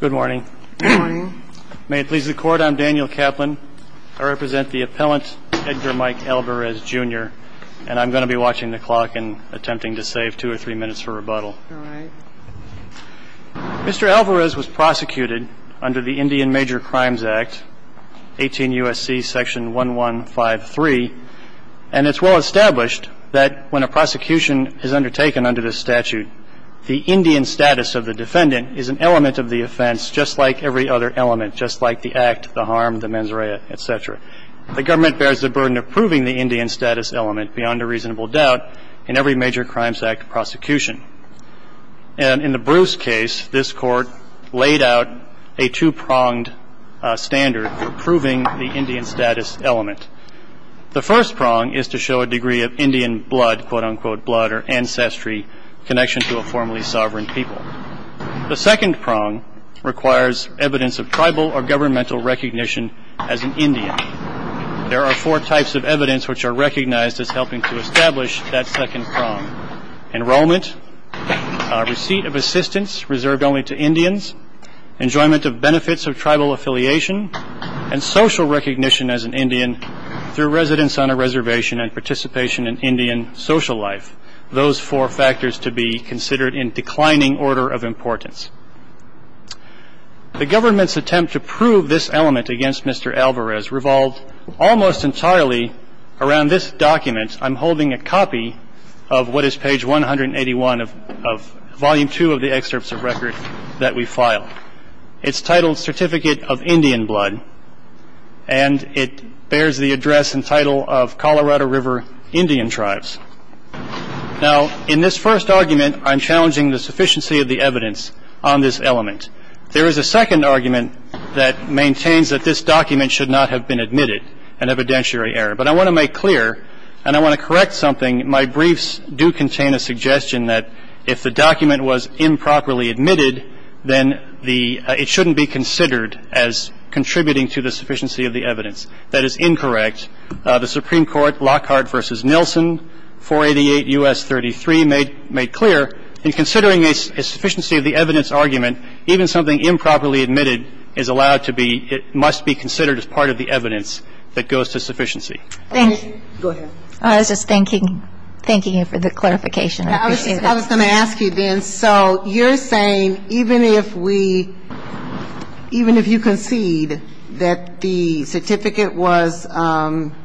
Good morning. May it please the Court, I'm Daniel Kaplan. I represent the appellant Edgar Mike Alvarez, Jr. and I'm going to be watching the clock and attempting to save two or three minutes for rebuttal. Mr. Alvarez was prosecuted under the Indian Major Crimes Act, 18 U.S.C. Section 1153, and it's well established that when a prosecution is undertaken under this statute, the Indian status of the defendant is an element of the offense just like every other element, just like the act, the harm, the mens rea, et cetera. The government bears the burden of proving the Indian status element beyond a reasonable doubt in every major crimes act prosecution. And in the Bruce case, this court laid out a two pronged standard for proving the Indian status element. The first prong is to show a degree of Indian blood, quote unquote blood, or ancestry connection to a formerly sovereign people. The second prong requires evidence of tribal or governmental recognition as an Indian. There are four types of evidence which are recognized as helping to establish that second prong. Enrollment, receipt of assistance reserved only to Indians, enjoyment of benefits of tribal affiliation, and social recognition as an Indian through residence on a reservation and participation in Indian social life. Those four factors to be considered in declining order of importance. The government's attempt to prove this element against Mr. Alvarez revolved almost entirely around this document. I'm holding a copy of what is page 181 of volume two of the excerpts of record that we filed. It's titled Certificate of Indian Blood, and it bears the address and title of Colorado River Indian Tribes. Now, in this first argument, I'm challenging the sufficiency of the evidence on this element. There is a second argument that maintains that this document should not have been admitted, an evidentiary error. But I want to make clear and I want to correct something. My briefs do contain a suggestion that if the document was improperly admitted, then the – it shouldn't be considered as contributing to the sufficiency of the evidence. That is incorrect. The Supreme Court, Lockhart v. Nielsen, 488 U.S. 33, made clear in considering a sufficiency of the evidence argument, even something improperly admitted is allowed to be – it must be considered as part of the evidence that goes to sufficiency. Thank you. Go ahead. I was just thanking you for the clarification. I appreciate it. I was going to ask you then. So you're saying even if we – even if you concede that the certificate was –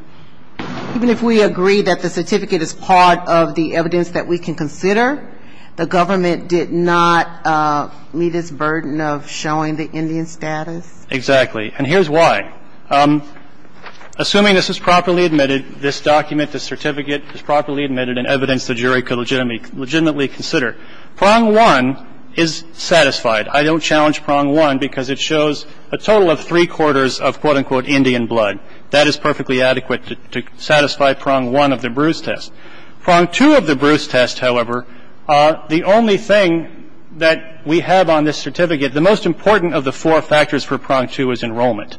even if we agree that the certificate is part of the evidence that we can consider, the government did not meet its burden of showing the Indian status? Exactly. And here's why. Assuming this is properly admitted, this document, this certificate is properly admitted and evidence the jury could legitimately consider. Prong one is satisfied. I don't challenge prong one because it shows a total of three-quarters of, quote, unquote, Indian blood. That is perfectly adequate to satisfy prong one of the Bruce test. Prong two of the Bruce test, however, the only thing that we have on this certificate, the most important of the four factors for prong two is enrollment.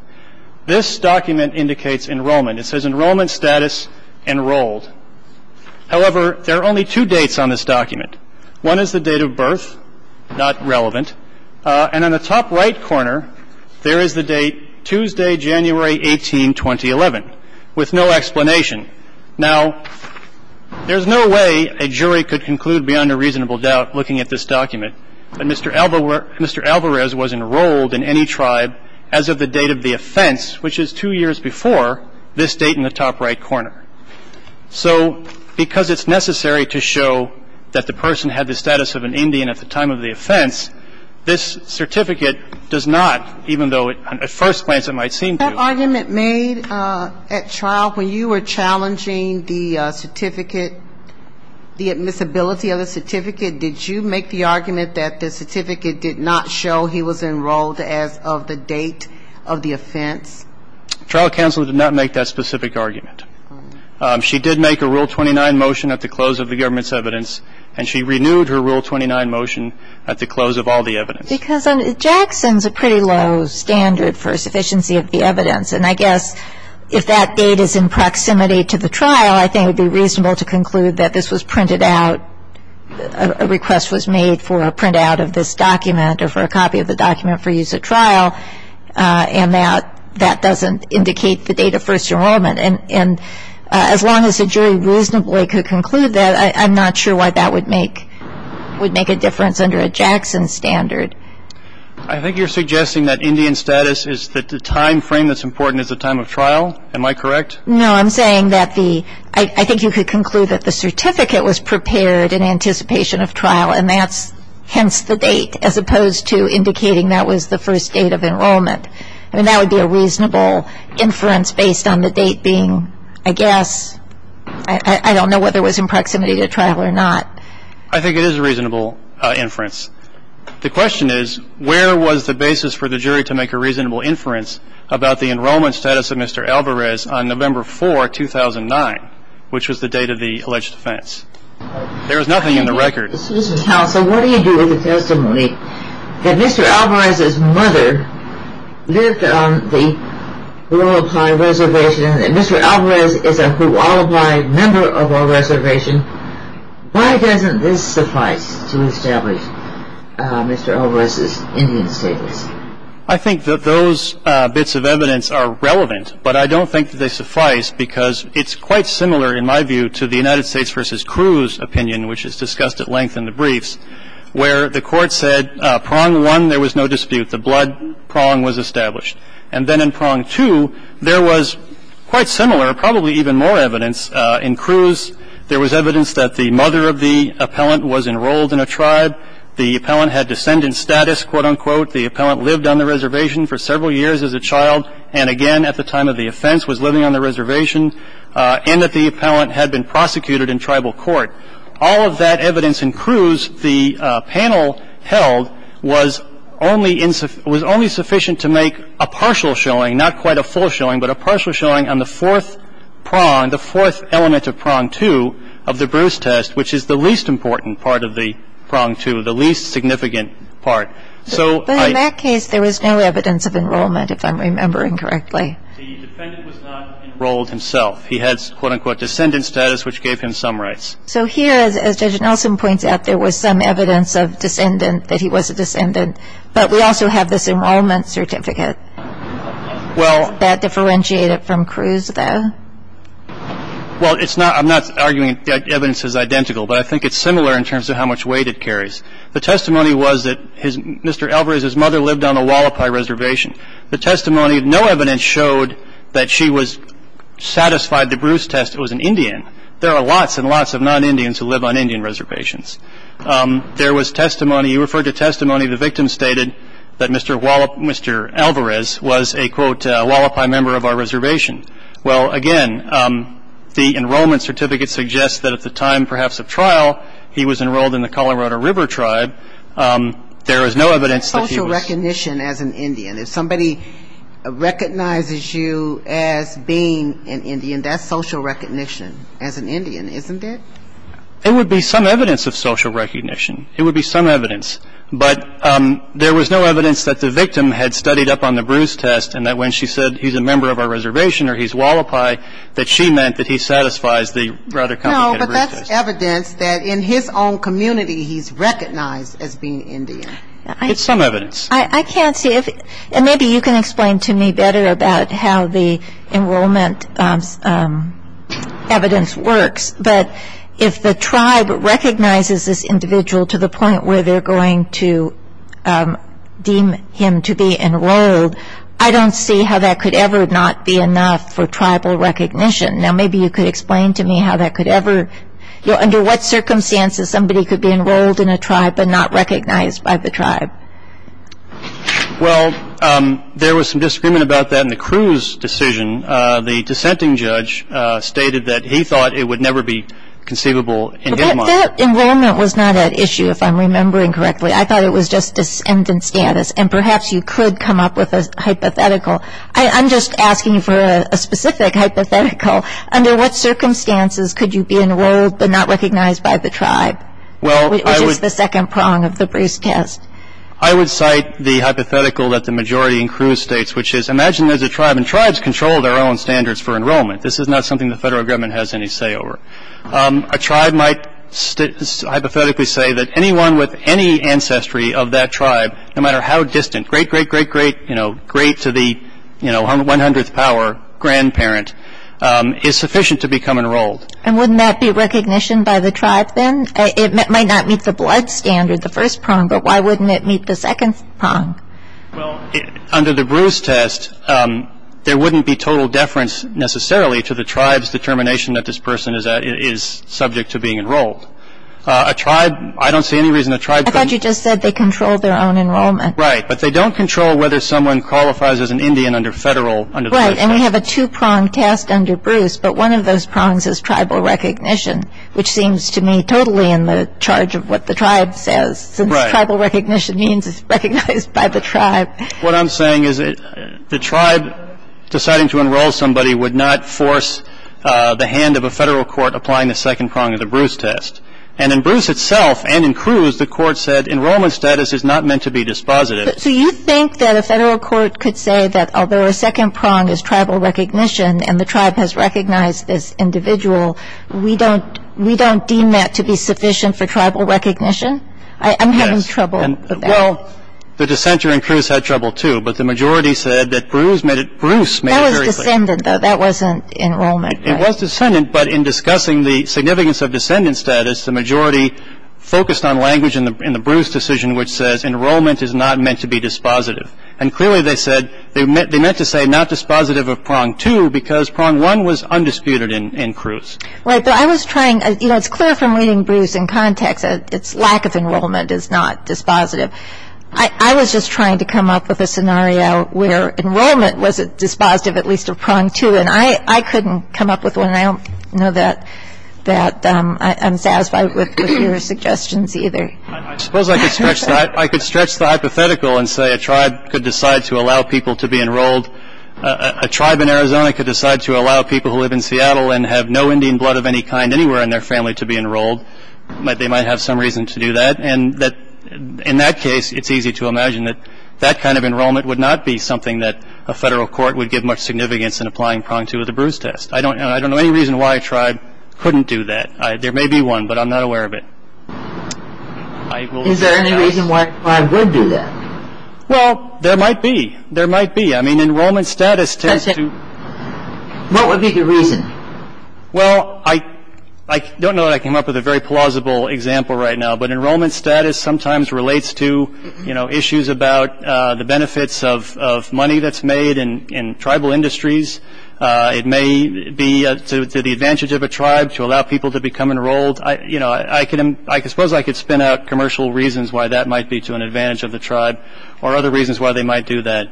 This document indicates enrollment. It says enrollment status enrolled. However, there are only two dates on this document. One is the date of birth, not relevant. And on the top right corner, there is the date Tuesday, January 18, 2011, with no explanation. Now, there's no way a jury could conclude beyond a reasonable doubt looking at this document that Mr. Alvarez was enrolled in any tribe as of the date of the offense, which is two years before this date in the top right corner. So because it's necessary to show that the person had the status of an Indian at the time of the offense, this certificate does not, even though at first glance it might seem to. That argument made at trial when you were challenging the certificate, the admissibility of the certificate, did you make the argument that the certificate did not show he was enrolled as of the date of the offense? Trial counsel did not make that specific argument. She did make a Rule 29 motion at the close of the government's evidence, and she renewed her Rule 29 motion at the close of all the evidence. Because Jackson's a pretty low standard for sufficiency of the evidence, and I guess if that date is in proximity to the trial, I think it would be reasonable to conclude that this was printed out, a request was made for a printout of this document or for a copy of the document for use at trial, and that that doesn't indicate the date of first enrollment. And as long as a jury reasonably could conclude that, I'm not sure why that would make a difference under a Jackson standard. I think you're suggesting that Indian status is that the time frame that's important is the time of trial. Am I correct? No, I'm saying that the, I think you could conclude that the certificate was prepared in anticipation of trial, and that's hence the date, as opposed to indicating that was the first date of enrollment. And that would be a reasonable inference based on the date being, I guess, I don't know whether it was in proximity to trial or not. I think it is a reasonable inference. The question is, where was the basis for the jury to make a reasonable inference about the enrollment status of Mr. Alvarez on November 4, 2009, which was the date of the alleged offense? There was nothing in the record. Mr. Counsel, what do you do with the testimony that Mr. Alvarez's mother lived on the Willow Pine Reservation, and Mr. Alvarez is a Hualapai member of our reservation? Why doesn't this suffice to establish Mr. Alvarez's Indian status? I think that those bits of evidence are relevant, but I don't think that they suffice because it's quite similar, in my view, to the United States v. Cruz opinion, which is discussed at length in the briefs, where the Court said prong one, there was no dispute. The blood prong was established. And then in prong two, there was quite similar, probably even more evidence. In Cruz, there was evidence that the mother of the appellant was enrolled in a tribe. The appellant had descendant status, quote, unquote. The appellant lived on the reservation for several years as a child and, again, at the time of the offense was living on the reservation, and that the appellant had been prosecuted in tribal court. All of that evidence in Cruz the panel held was only sufficient to make a partial showing, not quite a full showing, but a partial showing on the fourth prong, the fourth element of prong two of the Bruce test, which is the least important part of the prong two, the least significant part. So I ---- But in that case, there was no evidence of enrollment, if I'm remembering correctly. The defendant was not enrolled himself. He had, quote, unquote, descendant status, which gave him some rights. So here, as Judge Nelson points out, there was some evidence of descendant, that he was a descendant, but we also have this enrollment certificate. Well ---- Does that differentiate it from Cruz, though? Well, it's not ---- I'm not arguing that evidence is identical, but I think it's similar in terms of how much weight it carries. The testimony was that Mr. Alvarez's mother lived on the Hualapai Reservation. The testimony of no evidence showed that she was satisfied the Bruce test was an Indian. There are lots and lots of non-Indians who live on Indian reservations. There was testimony ---- you referred to testimony. The victim stated that Mr. Alvarez was a, quote, Hualapai member of our reservation. Well, again, the enrollment certificate suggests that at the time perhaps of trial, he was enrolled in the Colorado River Tribe. There is no evidence that he was ---- That's social recognition as an Indian. If somebody recognizes you as being an Indian, that's social recognition as an Indian, isn't it? It would be some evidence of social recognition. It would be some evidence. But there was no evidence that the victim had studied up on the Bruce test, and that when she said he's a member of our reservation or he's Hualapai, that she meant that he satisfies the Router County ---- No, but that's evidence that in his own community, he's recognized as being Indian. It's some evidence. I can't see if ---- and maybe you can explain to me better about how the enrollment evidence works. But if the tribe recognizes this individual to the point where they're going to deem him to be enrolled, I don't see how that could ever not be enough for tribal recognition. Now, maybe you could explain to me how that could ever ---- Well, there was some disagreement about that in the Cruz decision. The dissenting judge stated that he thought it would never be conceivable in his mind. But that enrollment was not at issue, if I'm remembering correctly. I thought it was just descendant status. And perhaps you could come up with a hypothetical. I'm just asking for a specific hypothetical. Under what circumstances could you be enrolled but not recognized by the tribe, which is the second prong of the Bruce test? I would cite the hypothetical that the majority in Cruz states, which is imagine there's a tribe, and tribes control their own standards for enrollment. This is not something the federal government has any say over. A tribe might hypothetically say that anyone with any ancestry of that tribe, no matter how distant, great, great, great, great, you know, great to the, you know, 100th power, grandparent, is sufficient to become enrolled. And wouldn't that be recognition by the tribe then? It might not meet the blood standard, the first prong, but why wouldn't it meet the second prong? Well, under the Bruce test, there wouldn't be total deference necessarily to the tribe's determination that this person is subject to being enrolled. A tribe, I don't see any reason a tribe couldn't. I thought you just said they controlled their own enrollment. Right. But they don't control whether someone qualifies as an Indian under federal, under the first prong. Right. And we have a two-prong test under Bruce, but one of those prongs is tribal recognition, which seems to me totally in the charge of what the tribe says. Right. Since tribal recognition means it's recognized by the tribe. What I'm saying is the tribe deciding to enroll somebody would not force the hand of a federal court applying the second prong of the Bruce test. And in Bruce itself, and in Cruz, the court said enrollment status is not meant to be dispositive. So you think that a federal court could say that although a second prong is tribal recognition and the tribe has recognized this individual, we don't deem that to be sufficient for tribal recognition? I'm having trouble with that. Well, the dissenter in Cruz had trouble, too. But the majority said that Bruce made it very clear. That was descendant, though. That wasn't enrollment. It was descendant, but in discussing the significance of descendant status, the majority focused on language in the Bruce decision which says enrollment is not meant to be dispositive. And clearly they said, they meant to say not dispositive of prong two because prong one was undisputed in Cruz. Right. But I was trying, you know, it's clear from reading Bruce in context that its lack of enrollment is not dispositive. I was just trying to come up with a scenario where enrollment was dispositive at least of prong two. And I couldn't come up with one. I don't know that I'm satisfied with your suggestions either. I suppose I could stretch the hypothetical and say a tribe could decide to allow people to be enrolled. A tribe in Arizona could decide to allow people who live in Seattle and have no Indian blood of any kind anywhere in their family to be enrolled. They might have some reason to do that. And in that case, it's easy to imagine that that kind of enrollment would not be something that a federal court would give much significance in applying prong two of the Bruce test. I don't know any reason why a tribe couldn't do that. There may be one, but I'm not aware of it. Is there any reason why a tribe would do that? Well, there might be. There might be. I mean, enrollment status tends to. What would be the reason? Well, I don't know that I came up with a very plausible example right now, but enrollment status sometimes relates to, you know, issues about the benefits of money that's made in tribal industries. It may be to the advantage of a tribe to allow people to become enrolled. You know, I suppose I could spin out commercial reasons why that might be to an advantage of the tribe or other reasons why they might do that.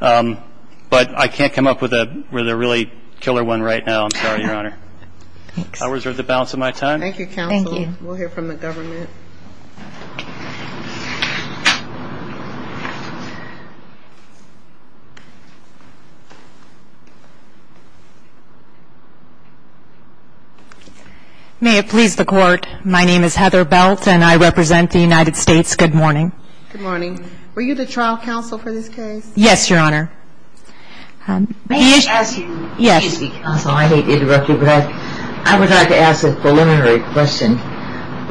But I can't come up with a really killer one right now. I'm sorry, Your Honor. Thanks. I reserve the balance of my time. Thank you, counsel. Thank you. We'll hear from the government. May it please the Court. My name is Heather Belt, and I represent the United States. Good morning. Good morning. Were you the trial counsel for this case? Yes, Your Honor. May I ask you? Yes. I hate to interrupt you, but I would like to ask a preliminary question.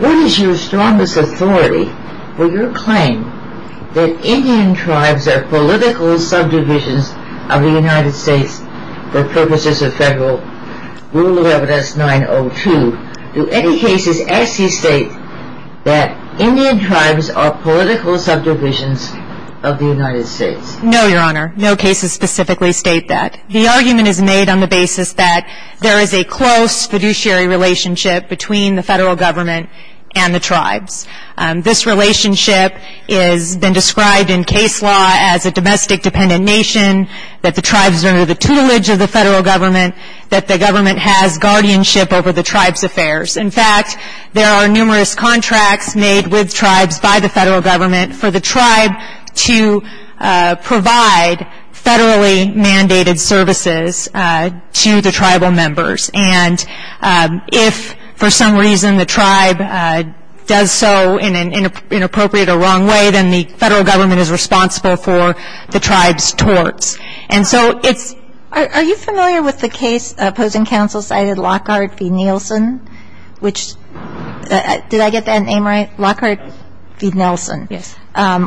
What is your strongest authority for your claim that Indian tribes are political subdivisions of the United States for purposes of Federal Rule of Evidence 902? Do any cases actually state that Indian tribes are political subdivisions of the United States? No, Your Honor. No cases specifically state that. The argument is made on the basis that there is a close fiduciary relationship between the Federal Government and the tribes. This relationship has been described in case law as a domestic dependent nation, that the tribes are under the tutelage of the Federal Government, that the government has guardianship over the tribes' affairs. In fact, there are numerous contracts made with tribes by the Federal Government for the tribe to provide federally mandated services to the tribal members. And if, for some reason, the tribe does so in an inappropriate or wrong way, then the Federal Government is responsible for the tribe's torts. And so it's – Are you familiar with the case opposing counsel cited Lockhart v. Nielsen, which – did I get that name right? Lockhart v. Nielsen. Yes.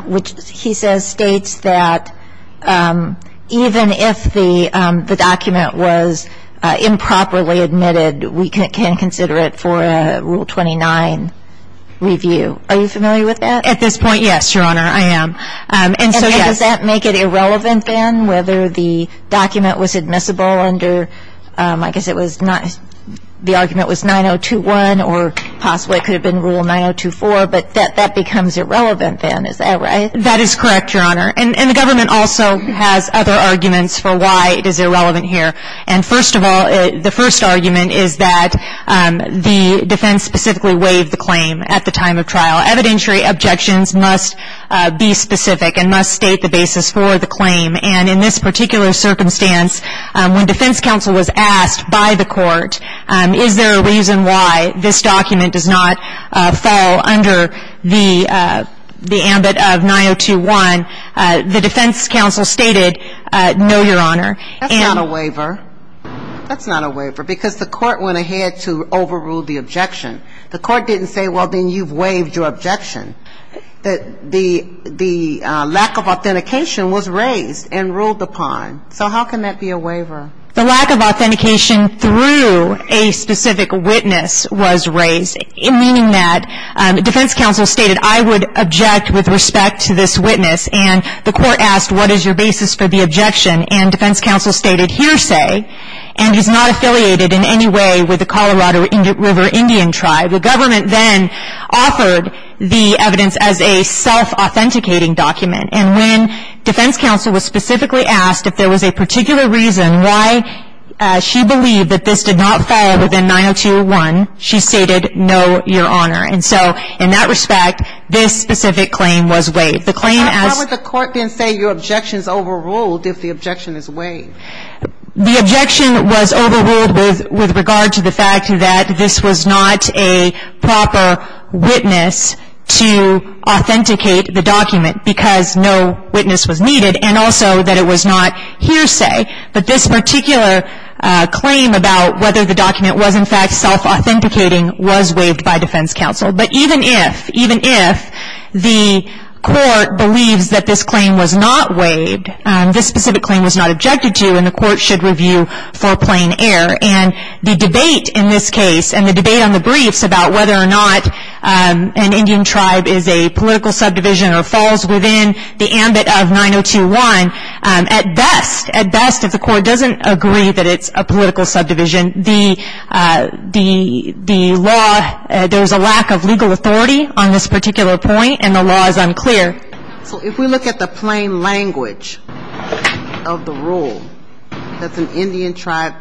Which he says states that even if the document was improperly admitted, we can consider it for a Rule 29 review. Are you familiar with that? At this point, yes, Your Honor, I am. And so, yes. And does that make it irrelevant then whether the document was admissible under – I guess it was not – the argument was 9021 or possibly it could have been Rule 9024, but that becomes irrelevant then. Is that right? That is correct, Your Honor. And the government also has other arguments for why it is irrelevant here. And first of all, the first argument is that the defense specifically waived the claim at the time of trial. Evidentiary objections must be specific and must state the basis for the claim. And in this particular circumstance, when defense counsel was asked by the court, is there a reason why this document does not fall under the ambit of 9021, the defense counsel stated, no, Your Honor. That's not a waiver. That's not a waiver because the court went ahead to overrule the objection. The court didn't say, well, then you've waived your objection. The lack of authentication was raised and ruled upon. So how can that be a waiver? The lack of authentication through a specific witness was raised, meaning that defense counsel stated, I would object with respect to this witness. And the court asked, what is your basis for the objection? And defense counsel stated, hearsay. And he's not affiliated in any way with the Colorado River Indian tribe. The government then offered the evidence as a self-authenticating document. And when defense counsel was specifically asked if there was a particular reason why she believed that this did not fall within 9021, she stated, no, Your Honor. And so in that respect, this specific claim was waived. The claim as ---- Why would the court then say your objection is overruled if the objection is waived? The objection was overruled with regard to the fact that this was not a proper witness to authenticate the document because no witness was needed, and also that it was not hearsay. But this particular claim about whether the document was in fact self-authenticating was waived by defense counsel. But even if, even if the court believes that this claim was not waived, this specific claim was not objected to, and the court should review for plain error. And the debate in this case and the debate on the briefs about whether or not an Indian tribe is a political subdivision or falls within the ambit of 9021, at best, at best if the court doesn't agree that it's a political subdivision, the law, there's a lack of legal authority on this particular point, and the law is unclear. So if we look at the plain language of the rule, does an Indian tribe,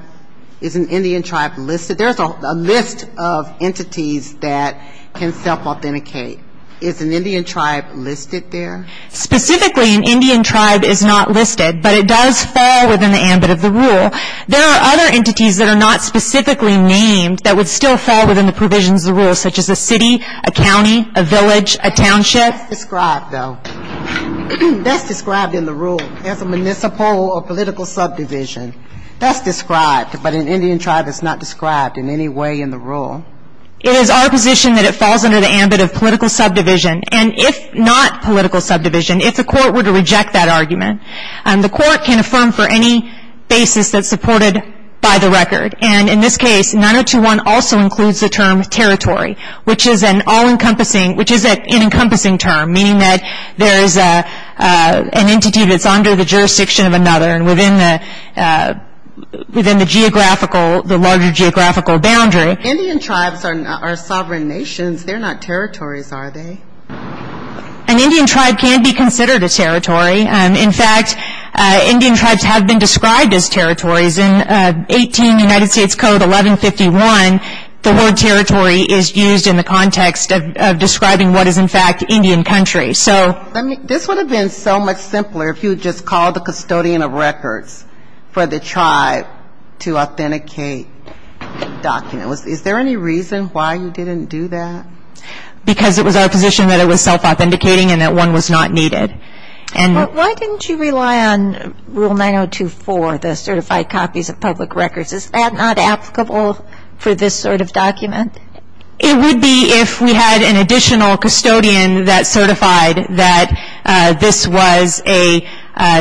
is an Indian tribe listed? There's a list of entities that can self-authenticate. Is an Indian tribe listed there? Specifically, an Indian tribe is not listed, but it does fall within the ambit of the rule. There are other entities that are not specifically named that would still fall within the provisions of the rule, such as a city, a county, a village, a township. That's described, though. That's described in the rule as a municipal or political subdivision. That's described, but an Indian tribe is not described in any way in the rule. It is our position that it falls under the ambit of political subdivision. And if not political subdivision, if the court were to reject that argument, the court can affirm for any basis that's supported by the record. And in this case, 9021 also includes the term territory, which is an all-encompassing term, meaning that there is an entity that's under the jurisdiction of another and within the geographical, the larger geographical boundary. Indian tribes are sovereign nations. They're not territories, are they? An Indian tribe can be considered a territory. In fact, Indian tribes have been described as territories. In 18 United States Code 1151, the word territory is used in the context of describing what is, in fact, Indian country. So this would have been so much simpler if you had just called the custodian of records for the tribe to authenticate documents. Is there any reason why you didn't do that? Because it was our position that it was self-authenticating and that one was not needed. Why didn't you rely on Rule 9024, the certified copies of public records? Is that not applicable for this sort of document? It would be if we had an additional custodian that certified that this was a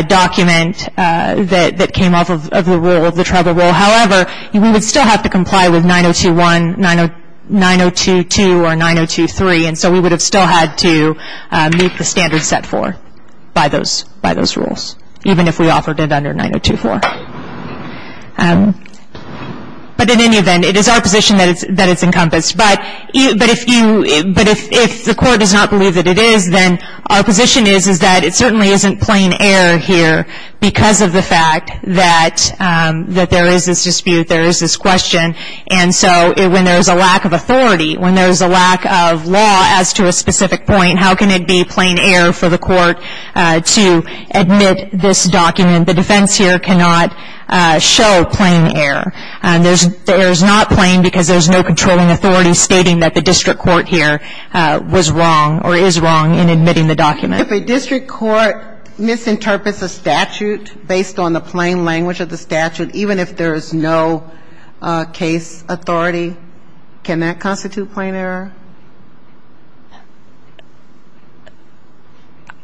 document that came off of the rule, of the tribal rule. However, we would still have to comply with 9021, 9022, or 9023, and so we would have still had to meet the standards set for by those rules, even if we offered it under 9024. But in any event, it is our position that it's encompassed. But if the court does not believe that it is, then our position is that it certainly isn't plain error here because of the fact that there is this dispute, there is this question. And so when there is a lack of authority, when there is a lack of law as to a specific point, how can it be plain error for the court to admit this document? The defense here cannot show plain error. The error is not plain because there is no controlling authority stating that the district court here was wrong or is wrong in admitting the document. If a district court misinterprets a statute based on the plain language of the statute, even if there is no case authority, can that constitute plain error?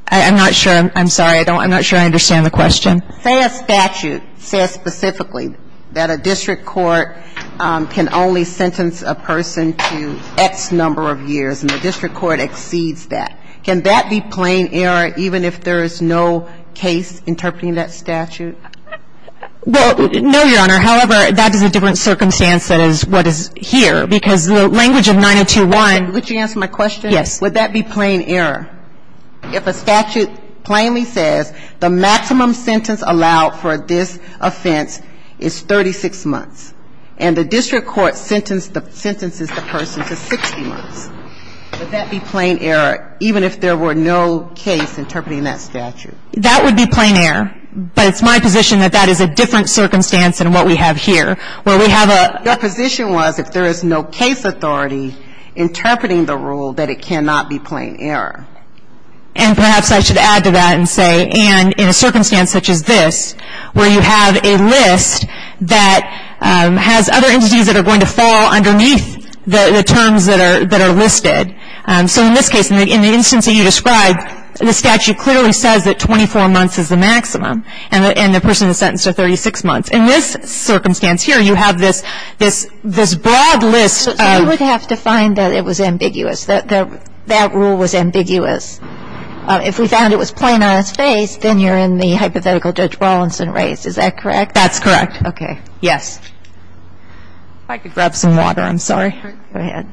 I'm not sure. I'm sorry. I'm not sure I understand the question. Say a statute says specifically that a district court can only sentence a person to X number of years, and the district court exceeds that. Can that be plain error even if there is no case interpreting that statute? Well, no, Your Honor. However, that is a different circumstance than is what is here because the language of 902-1. Would you answer my question? Yes. Would that be plain error? If a statute plainly says the maximum sentence allowed for this offense is 36 months, and the district court sentences the person to 60 months, would that be plain error even if there were no case interpreting that statute? That would be plain error. But it's my position that that is a different circumstance than what we have here. Your position was if there is no case authority interpreting the rule, that it cannot be plain error. And perhaps I should add to that and say, and in a circumstance such as this, where you have a list that has other entities that are going to fall underneath the terms that are listed. So in this case, in the instance that you described, the statute clearly says that 24 months is the maximum, and the person is sentenced to 36 months. In this circumstance here, you have this broad list of ---- But you would have to find that it was ambiguous, that that rule was ambiguous. If we found it was plain on its face, then you're in the hypothetical Judge Rawlinson raised. Is that correct? That's correct. Okay. Yes. If I could grab some water, I'm sorry. Go ahead.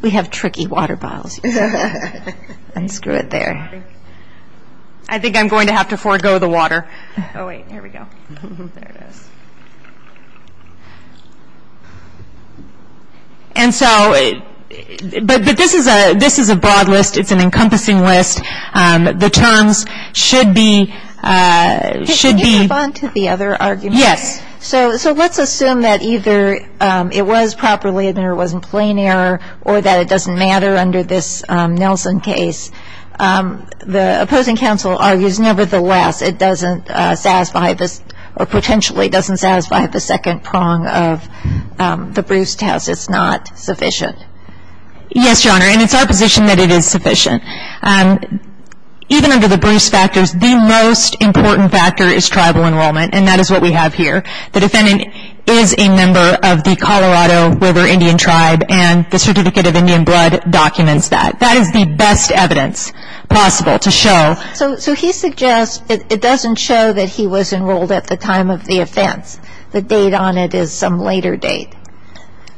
We have tricky water bottles. Unscrew it there. I think I'm going to have to forego the water. Oh, wait. Here we go. There it is. And so, but this is a broad list. It's an encompassing list. The terms should be ---- Can I move on to the other argument? Yes. So let's assume that either it was properly admitted or it was in plain error, or that it doesn't matter under this Nelson case. The opposing counsel argues, nevertheless, it doesn't satisfy this, or potentially doesn't satisfy the second prong of the Bruce test. It's not sufficient. Yes, Your Honor, and it's our position that it is sufficient. Even under the Bruce factors, the most important factor is tribal enrollment, and that is what we have here. The defendant is a member of the Colorado River Indian Tribe, and the Certificate of Indian Blood documents that. That is the best evidence possible to show. So he suggests it doesn't show that he was enrolled at the time of the offense. The date on it is some later date.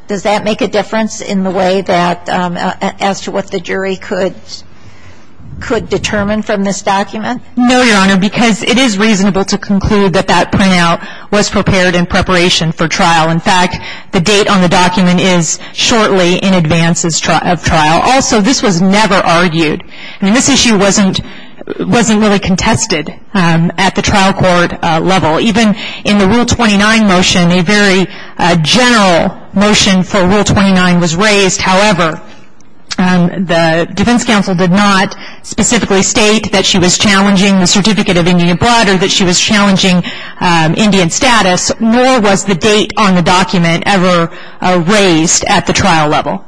Does that make a difference in the way that, as to what the jury could determine from this document? No, Your Honor, because it is reasonable to conclude that that printout was prepared in preparation for trial. In fact, the date on the document is shortly in advance of trial. Also, this was never argued. I mean, this issue wasn't really contested at the trial court level. Even in the Rule 29 motion, a very general motion for Rule 29 was raised. However, the defense counsel did not specifically state that she was challenging the Certificate of Indian Blood or that she was challenging Indian status, nor was the date on the document ever raised at the trial level.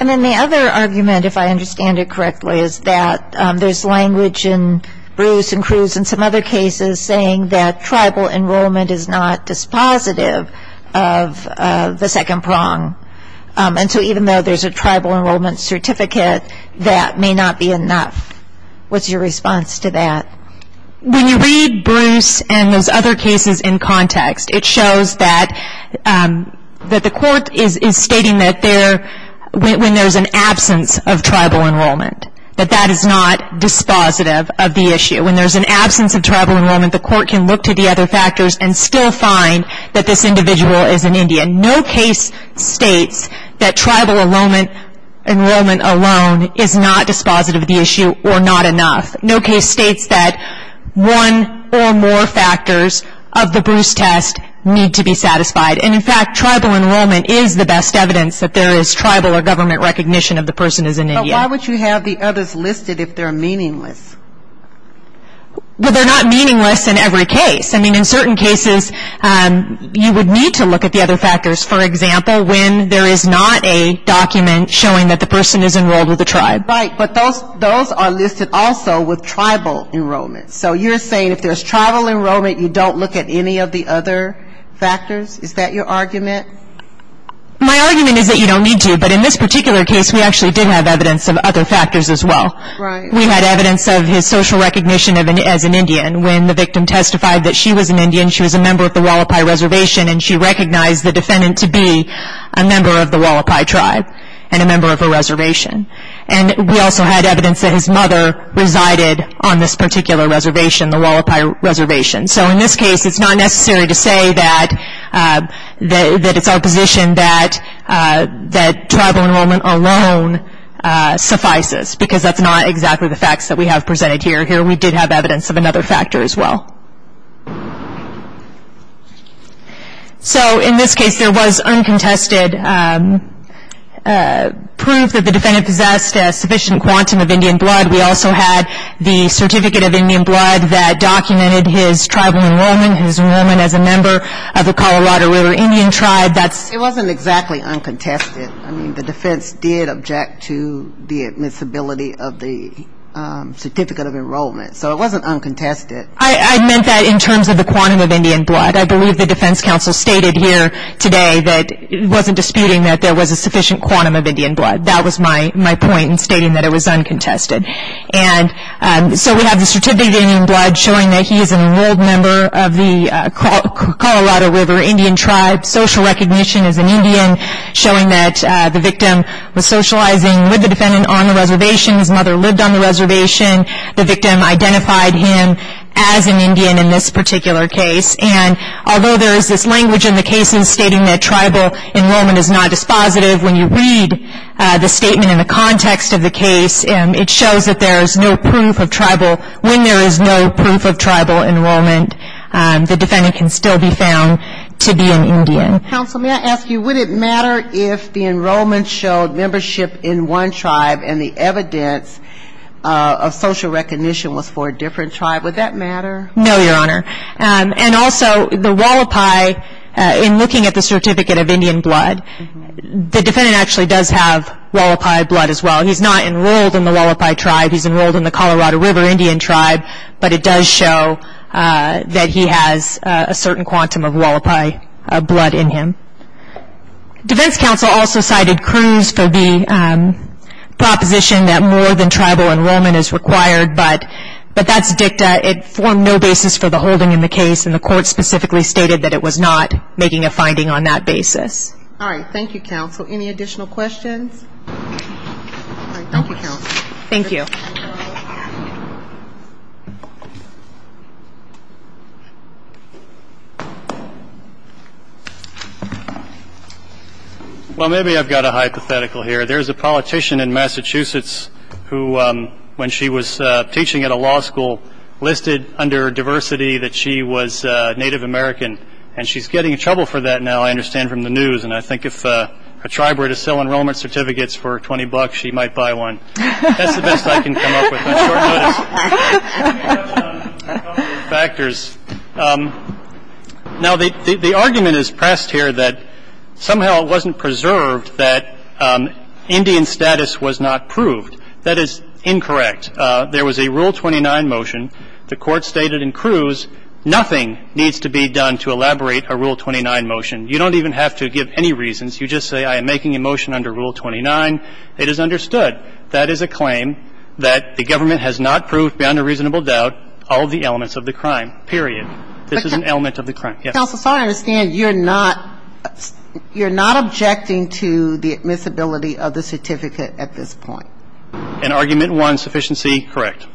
And then the other argument, if I understand it correctly, is that there's language in Bruce and Cruz and some other cases saying that tribal enrollment is not dispositive of the second prong. And so even though there's a tribal enrollment certificate, that may not be enough. What's your response to that? When you read Bruce and those other cases in context, it shows that the court is stating that when there's an absence of tribal enrollment, that that is not dispositive of the issue. When there's an absence of tribal enrollment, the court can look to the other factors and still find that this individual is an Indian. No case states that tribal enrollment alone is not dispositive of the issue or not enough. No case states that one or more factors of the Bruce test need to be satisfied. And, in fact, tribal enrollment is the best evidence that there is tribal or government recognition of the person as an Indian. But why would you have the others listed if they're meaningless? Well, they're not meaningless in every case. I mean, in certain cases, you would need to look at the other factors. For example, when there is not a document showing that the person is enrolled with a tribe. Right. But those are listed also with tribal enrollment. So you're saying if there's tribal enrollment, you don't look at any of the other factors? Is that your argument? My argument is that you don't need to. But in this particular case, we actually did have evidence of other factors as well. Right. We had evidence of his social recognition as an Indian. When the victim testified that she was an Indian, she was a member of the Hualapai Reservation, and she recognized the defendant to be a member of the Hualapai Tribe and a member of a reservation. And we also had evidence that his mother resided on this particular reservation, the Hualapai Reservation. So in this case, it's not necessary to say that it's our position that tribal enrollment alone suffices, because that's not exactly the facts that we have presented here. Here we did have evidence of another factor as well. So in this case, there was uncontested proof that the defendant possessed a sufficient quantum of Indian blood. We also had the certificate of Indian blood that documented his tribal enrollment, his enrollment as a member of the Colorado River Indian Tribe. It wasn't exactly uncontested. I mean, the defense did object to the admissibility of the certificate of enrollment. So it wasn't uncontested. I meant that in terms of the quantum of Indian blood. I believe the defense counsel stated here today that it wasn't disputing that there was a sufficient quantum of Indian blood. That was my point in stating that it was uncontested. And so we have the certificate of Indian blood showing that he is an enrolled member of the Colorado River Indian Tribe. Social recognition as an Indian showing that the victim was socializing with the defendant on the reservation. His mother lived on the reservation. The victim identified him as an Indian in this particular case. And although there is this language in the cases stating that tribal enrollment is not dispositive, when you read the statement in the context of the case, it shows that there is no proof of tribal. When there is no proof of tribal enrollment, the defendant can still be found to be an Indian. Counsel, may I ask you, would it matter if the enrollment showed membership in one tribe and the evidence of social recognition was for a different tribe? Would that matter? No, Your Honor. And also, the wallopi, in looking at the certificate of Indian blood, the defendant actually does have wallopi blood as well. He's not enrolled in the wallopi tribe. He's enrolled in the Colorado River Indian Tribe. But it does show that he has a certain quantum of wallopi blood in him. Defense counsel also cited Cruz for the proposition that more than tribal enrollment is required, but that's dicta. It formed no basis for the holding in the case, and the court specifically stated that it was not making a finding on that basis. All right. Thank you, counsel. Any additional questions? Thank you, counsel. Thank you. Thank you. Well, maybe I've got a hypothetical here. There's a politician in Massachusetts who, when she was teaching at a law school, listed under diversity that she was Native American. And she's getting in trouble for that now, I understand, from the news. And I think if a tribe were to sell enrollment certificates for 20 bucks, she might buy one. That's the best I can come up with on short notice. Let me add a couple of factors. Now, the argument is pressed here that somehow it wasn't preserved that Indian status was not proved. That is incorrect. There was a Rule 29 motion. The court stated in Cruz, nothing needs to be done to elaborate a Rule 29 motion. You don't even have to give any reasons. You just say, I am making a motion under Rule 29. It is understood. That is a claim that the government has not proved beyond a reasonable doubt all of the elements of the crime, period. This is an element of the crime. Counsel, so I understand you're not, you're not objecting to the admissibility of the certificate at this point. In argument one, sufficiency, correct.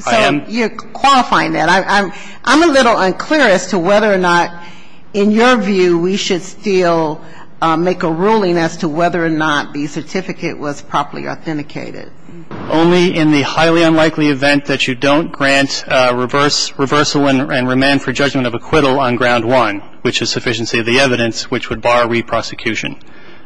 So you're qualifying that. I'm a little unclear as to whether or not, in your view, we should still make a ruling as to whether or not the certificate was properly authenticated. Only in the highly unlikely event that you don't grant reverse, reversal, and remand for judgment of acquittal on ground one, which is sufficiency of the evidence, which would bar re-prosecution.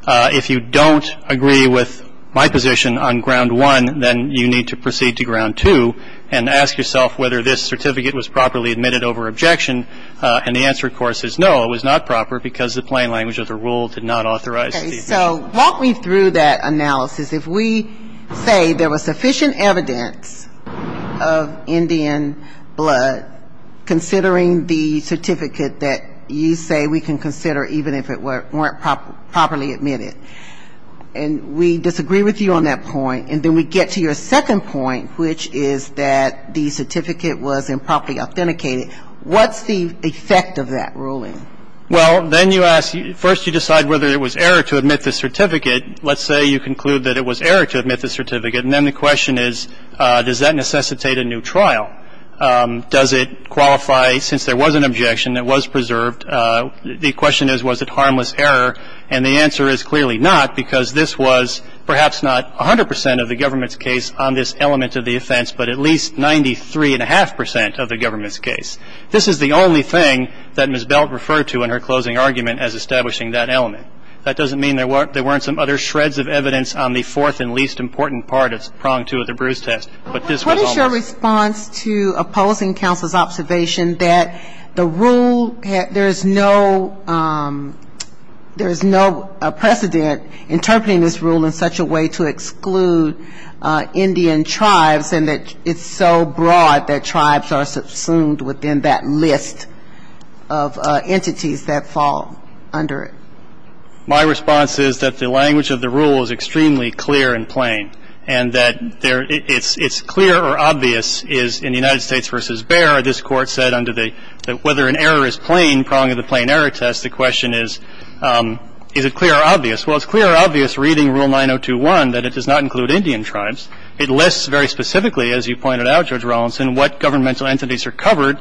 If you don't agree with my position on ground one, then you need to proceed to ground two and ask yourself whether this certificate was properly admitted over objection. And the answer, of course, is no, it was not proper because the plain language of the rule did not authorize it. Okay. So walk me through that analysis. If we say there was sufficient evidence of Indian blood, considering the certificate that you say we can consider even if it weren't properly admitted, and we disagree with you on that point, and then we get to your second point, which is that the certificate wasn't properly authenticated, what's the effect of that ruling? Well, then you ask, first you decide whether it was error to admit the certificate. Let's say you conclude that it was error to admit the certificate. And then the question is, does that necessitate a new trial? Does it qualify, since there was an objection that was preserved, the question is, was it harmless error? And the answer is clearly not, because this was perhaps not 100 percent of the government's case on this element of the offense, but at least 93 and a half percent of the government's case. This is the only thing that Ms. Belt referred to in her closing argument as establishing that element. That doesn't mean there weren't some other shreds of evidence on the fourth and least important part of prong two of the Bruce test, but this was almost. What is your response to opposing counsel's observation that the rule, there is no precedent interpreting this rule in such a way to exclude Indian tribes and that it's so broad that tribes are subsumed within that list of entities that fall under it? My response is that the language of the rule is extremely clear and plain, and that it's clear or obvious is in the United States v. Bayer, this Court said whether an error is plain, prong of the plain error test, the question is, is it clear or obvious? Well, it's clear or obvious reading Rule 9021 that it does not include Indian tribes. It lists very specifically, as you pointed out, Judge Rawlinson, what governmental entities are covered.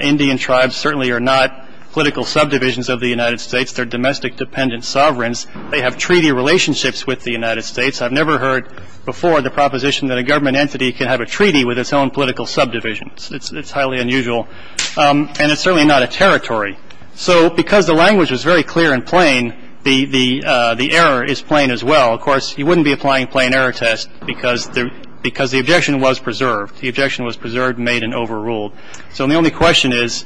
Indian tribes certainly are not political subdivisions of the United States. They're domestic dependent sovereigns. They have treaty relationships with the United States. I've never heard before the proposition that a government entity can have a treaty with its own political subdivisions. It's highly unusual, and it's certainly not a territory. So because the language was very clear and plain, the error is plain as well. Of course, you wouldn't be applying plain error test because the objection was preserved. The objection was preserved, made, and overruled. So the only question is,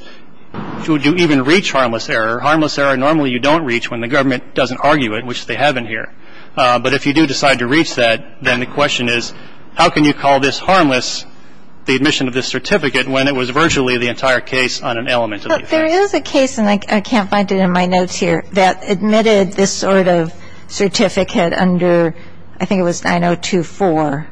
would you even reach harmless error? Harmless error normally you don't reach when the government doesn't argue it, which they haven't here. But if you do decide to reach that, then the question is, how can you call this harmless, the admission of this certificate, when it was virtually the entire case on an element of the offense? There is a case, and I can't find it in my notes here, that admitted this sort of certificate under, I think it was 9024.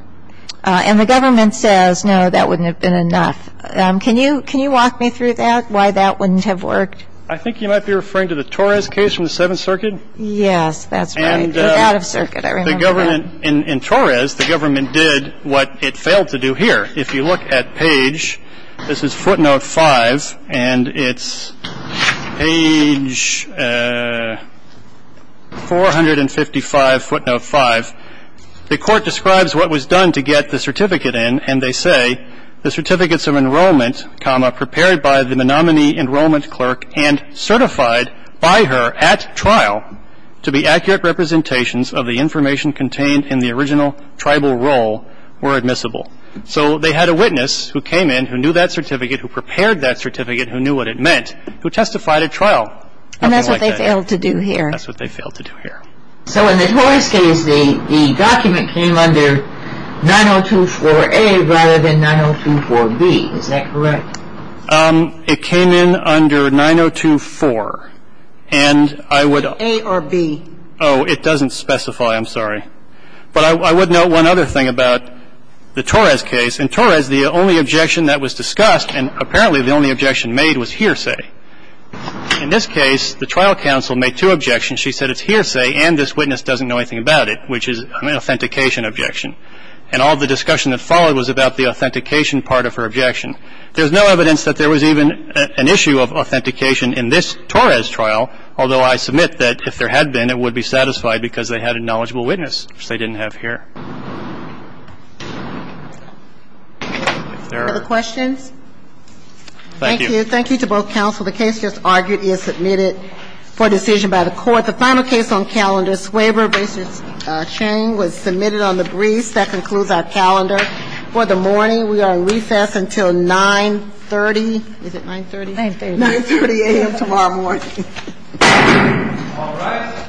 And the government says, no, that wouldn't have been enough. Can you walk me through that, why that wouldn't have worked? I think you might be referring to the Torres case from the Seventh Circuit. Yes, that's right. It was out of circuit, I remember that. In Torres, the government did what it failed to do here. If you look at page, this is footnote 5, and it's page 455, footnote 5. The Court describes what was done to get the certificate in, and they say, the certificates of enrollment, comma, prepared by the Menominee Enrollment Clerk and certified by her at trial to be accurate representations of the information contained in the original tribal roll were admissible. So they had a witness who came in, who knew that certificate, who prepared that certificate, who knew what it meant, who testified at trial. And that's what they failed to do here. That's what they failed to do here. So in the Torres case, the document came under 9024A rather than 9024B, is that correct? It came in under 9024, and I would A or B? Oh, it doesn't specify, I'm sorry. But I would note one other thing about the Torres case. In Torres, the only objection that was discussed, and apparently the only objection made, was hearsay. In this case, the trial counsel made two objections. She said it's hearsay and this witness doesn't know anything about it, which is an authentication objection. And all the discussion that followed was about the authentication part of her objection. There's no evidence that there was even an issue of authentication in this Torres trial, although I submit that if there had been, it would be satisfied because they had a knowledgeable witness, which they didn't have here. Are there other questions? Thank you. Thank you. Thank you to both counsel. The case just argued is submitted for decision by the Court. The final case on calendar, Swaver v. Shane, was submitted on the briefs. That concludes our calendar for the morning. We are in recess until 930. Is it 930? 930. 930 a.m. tomorrow morning. All rise.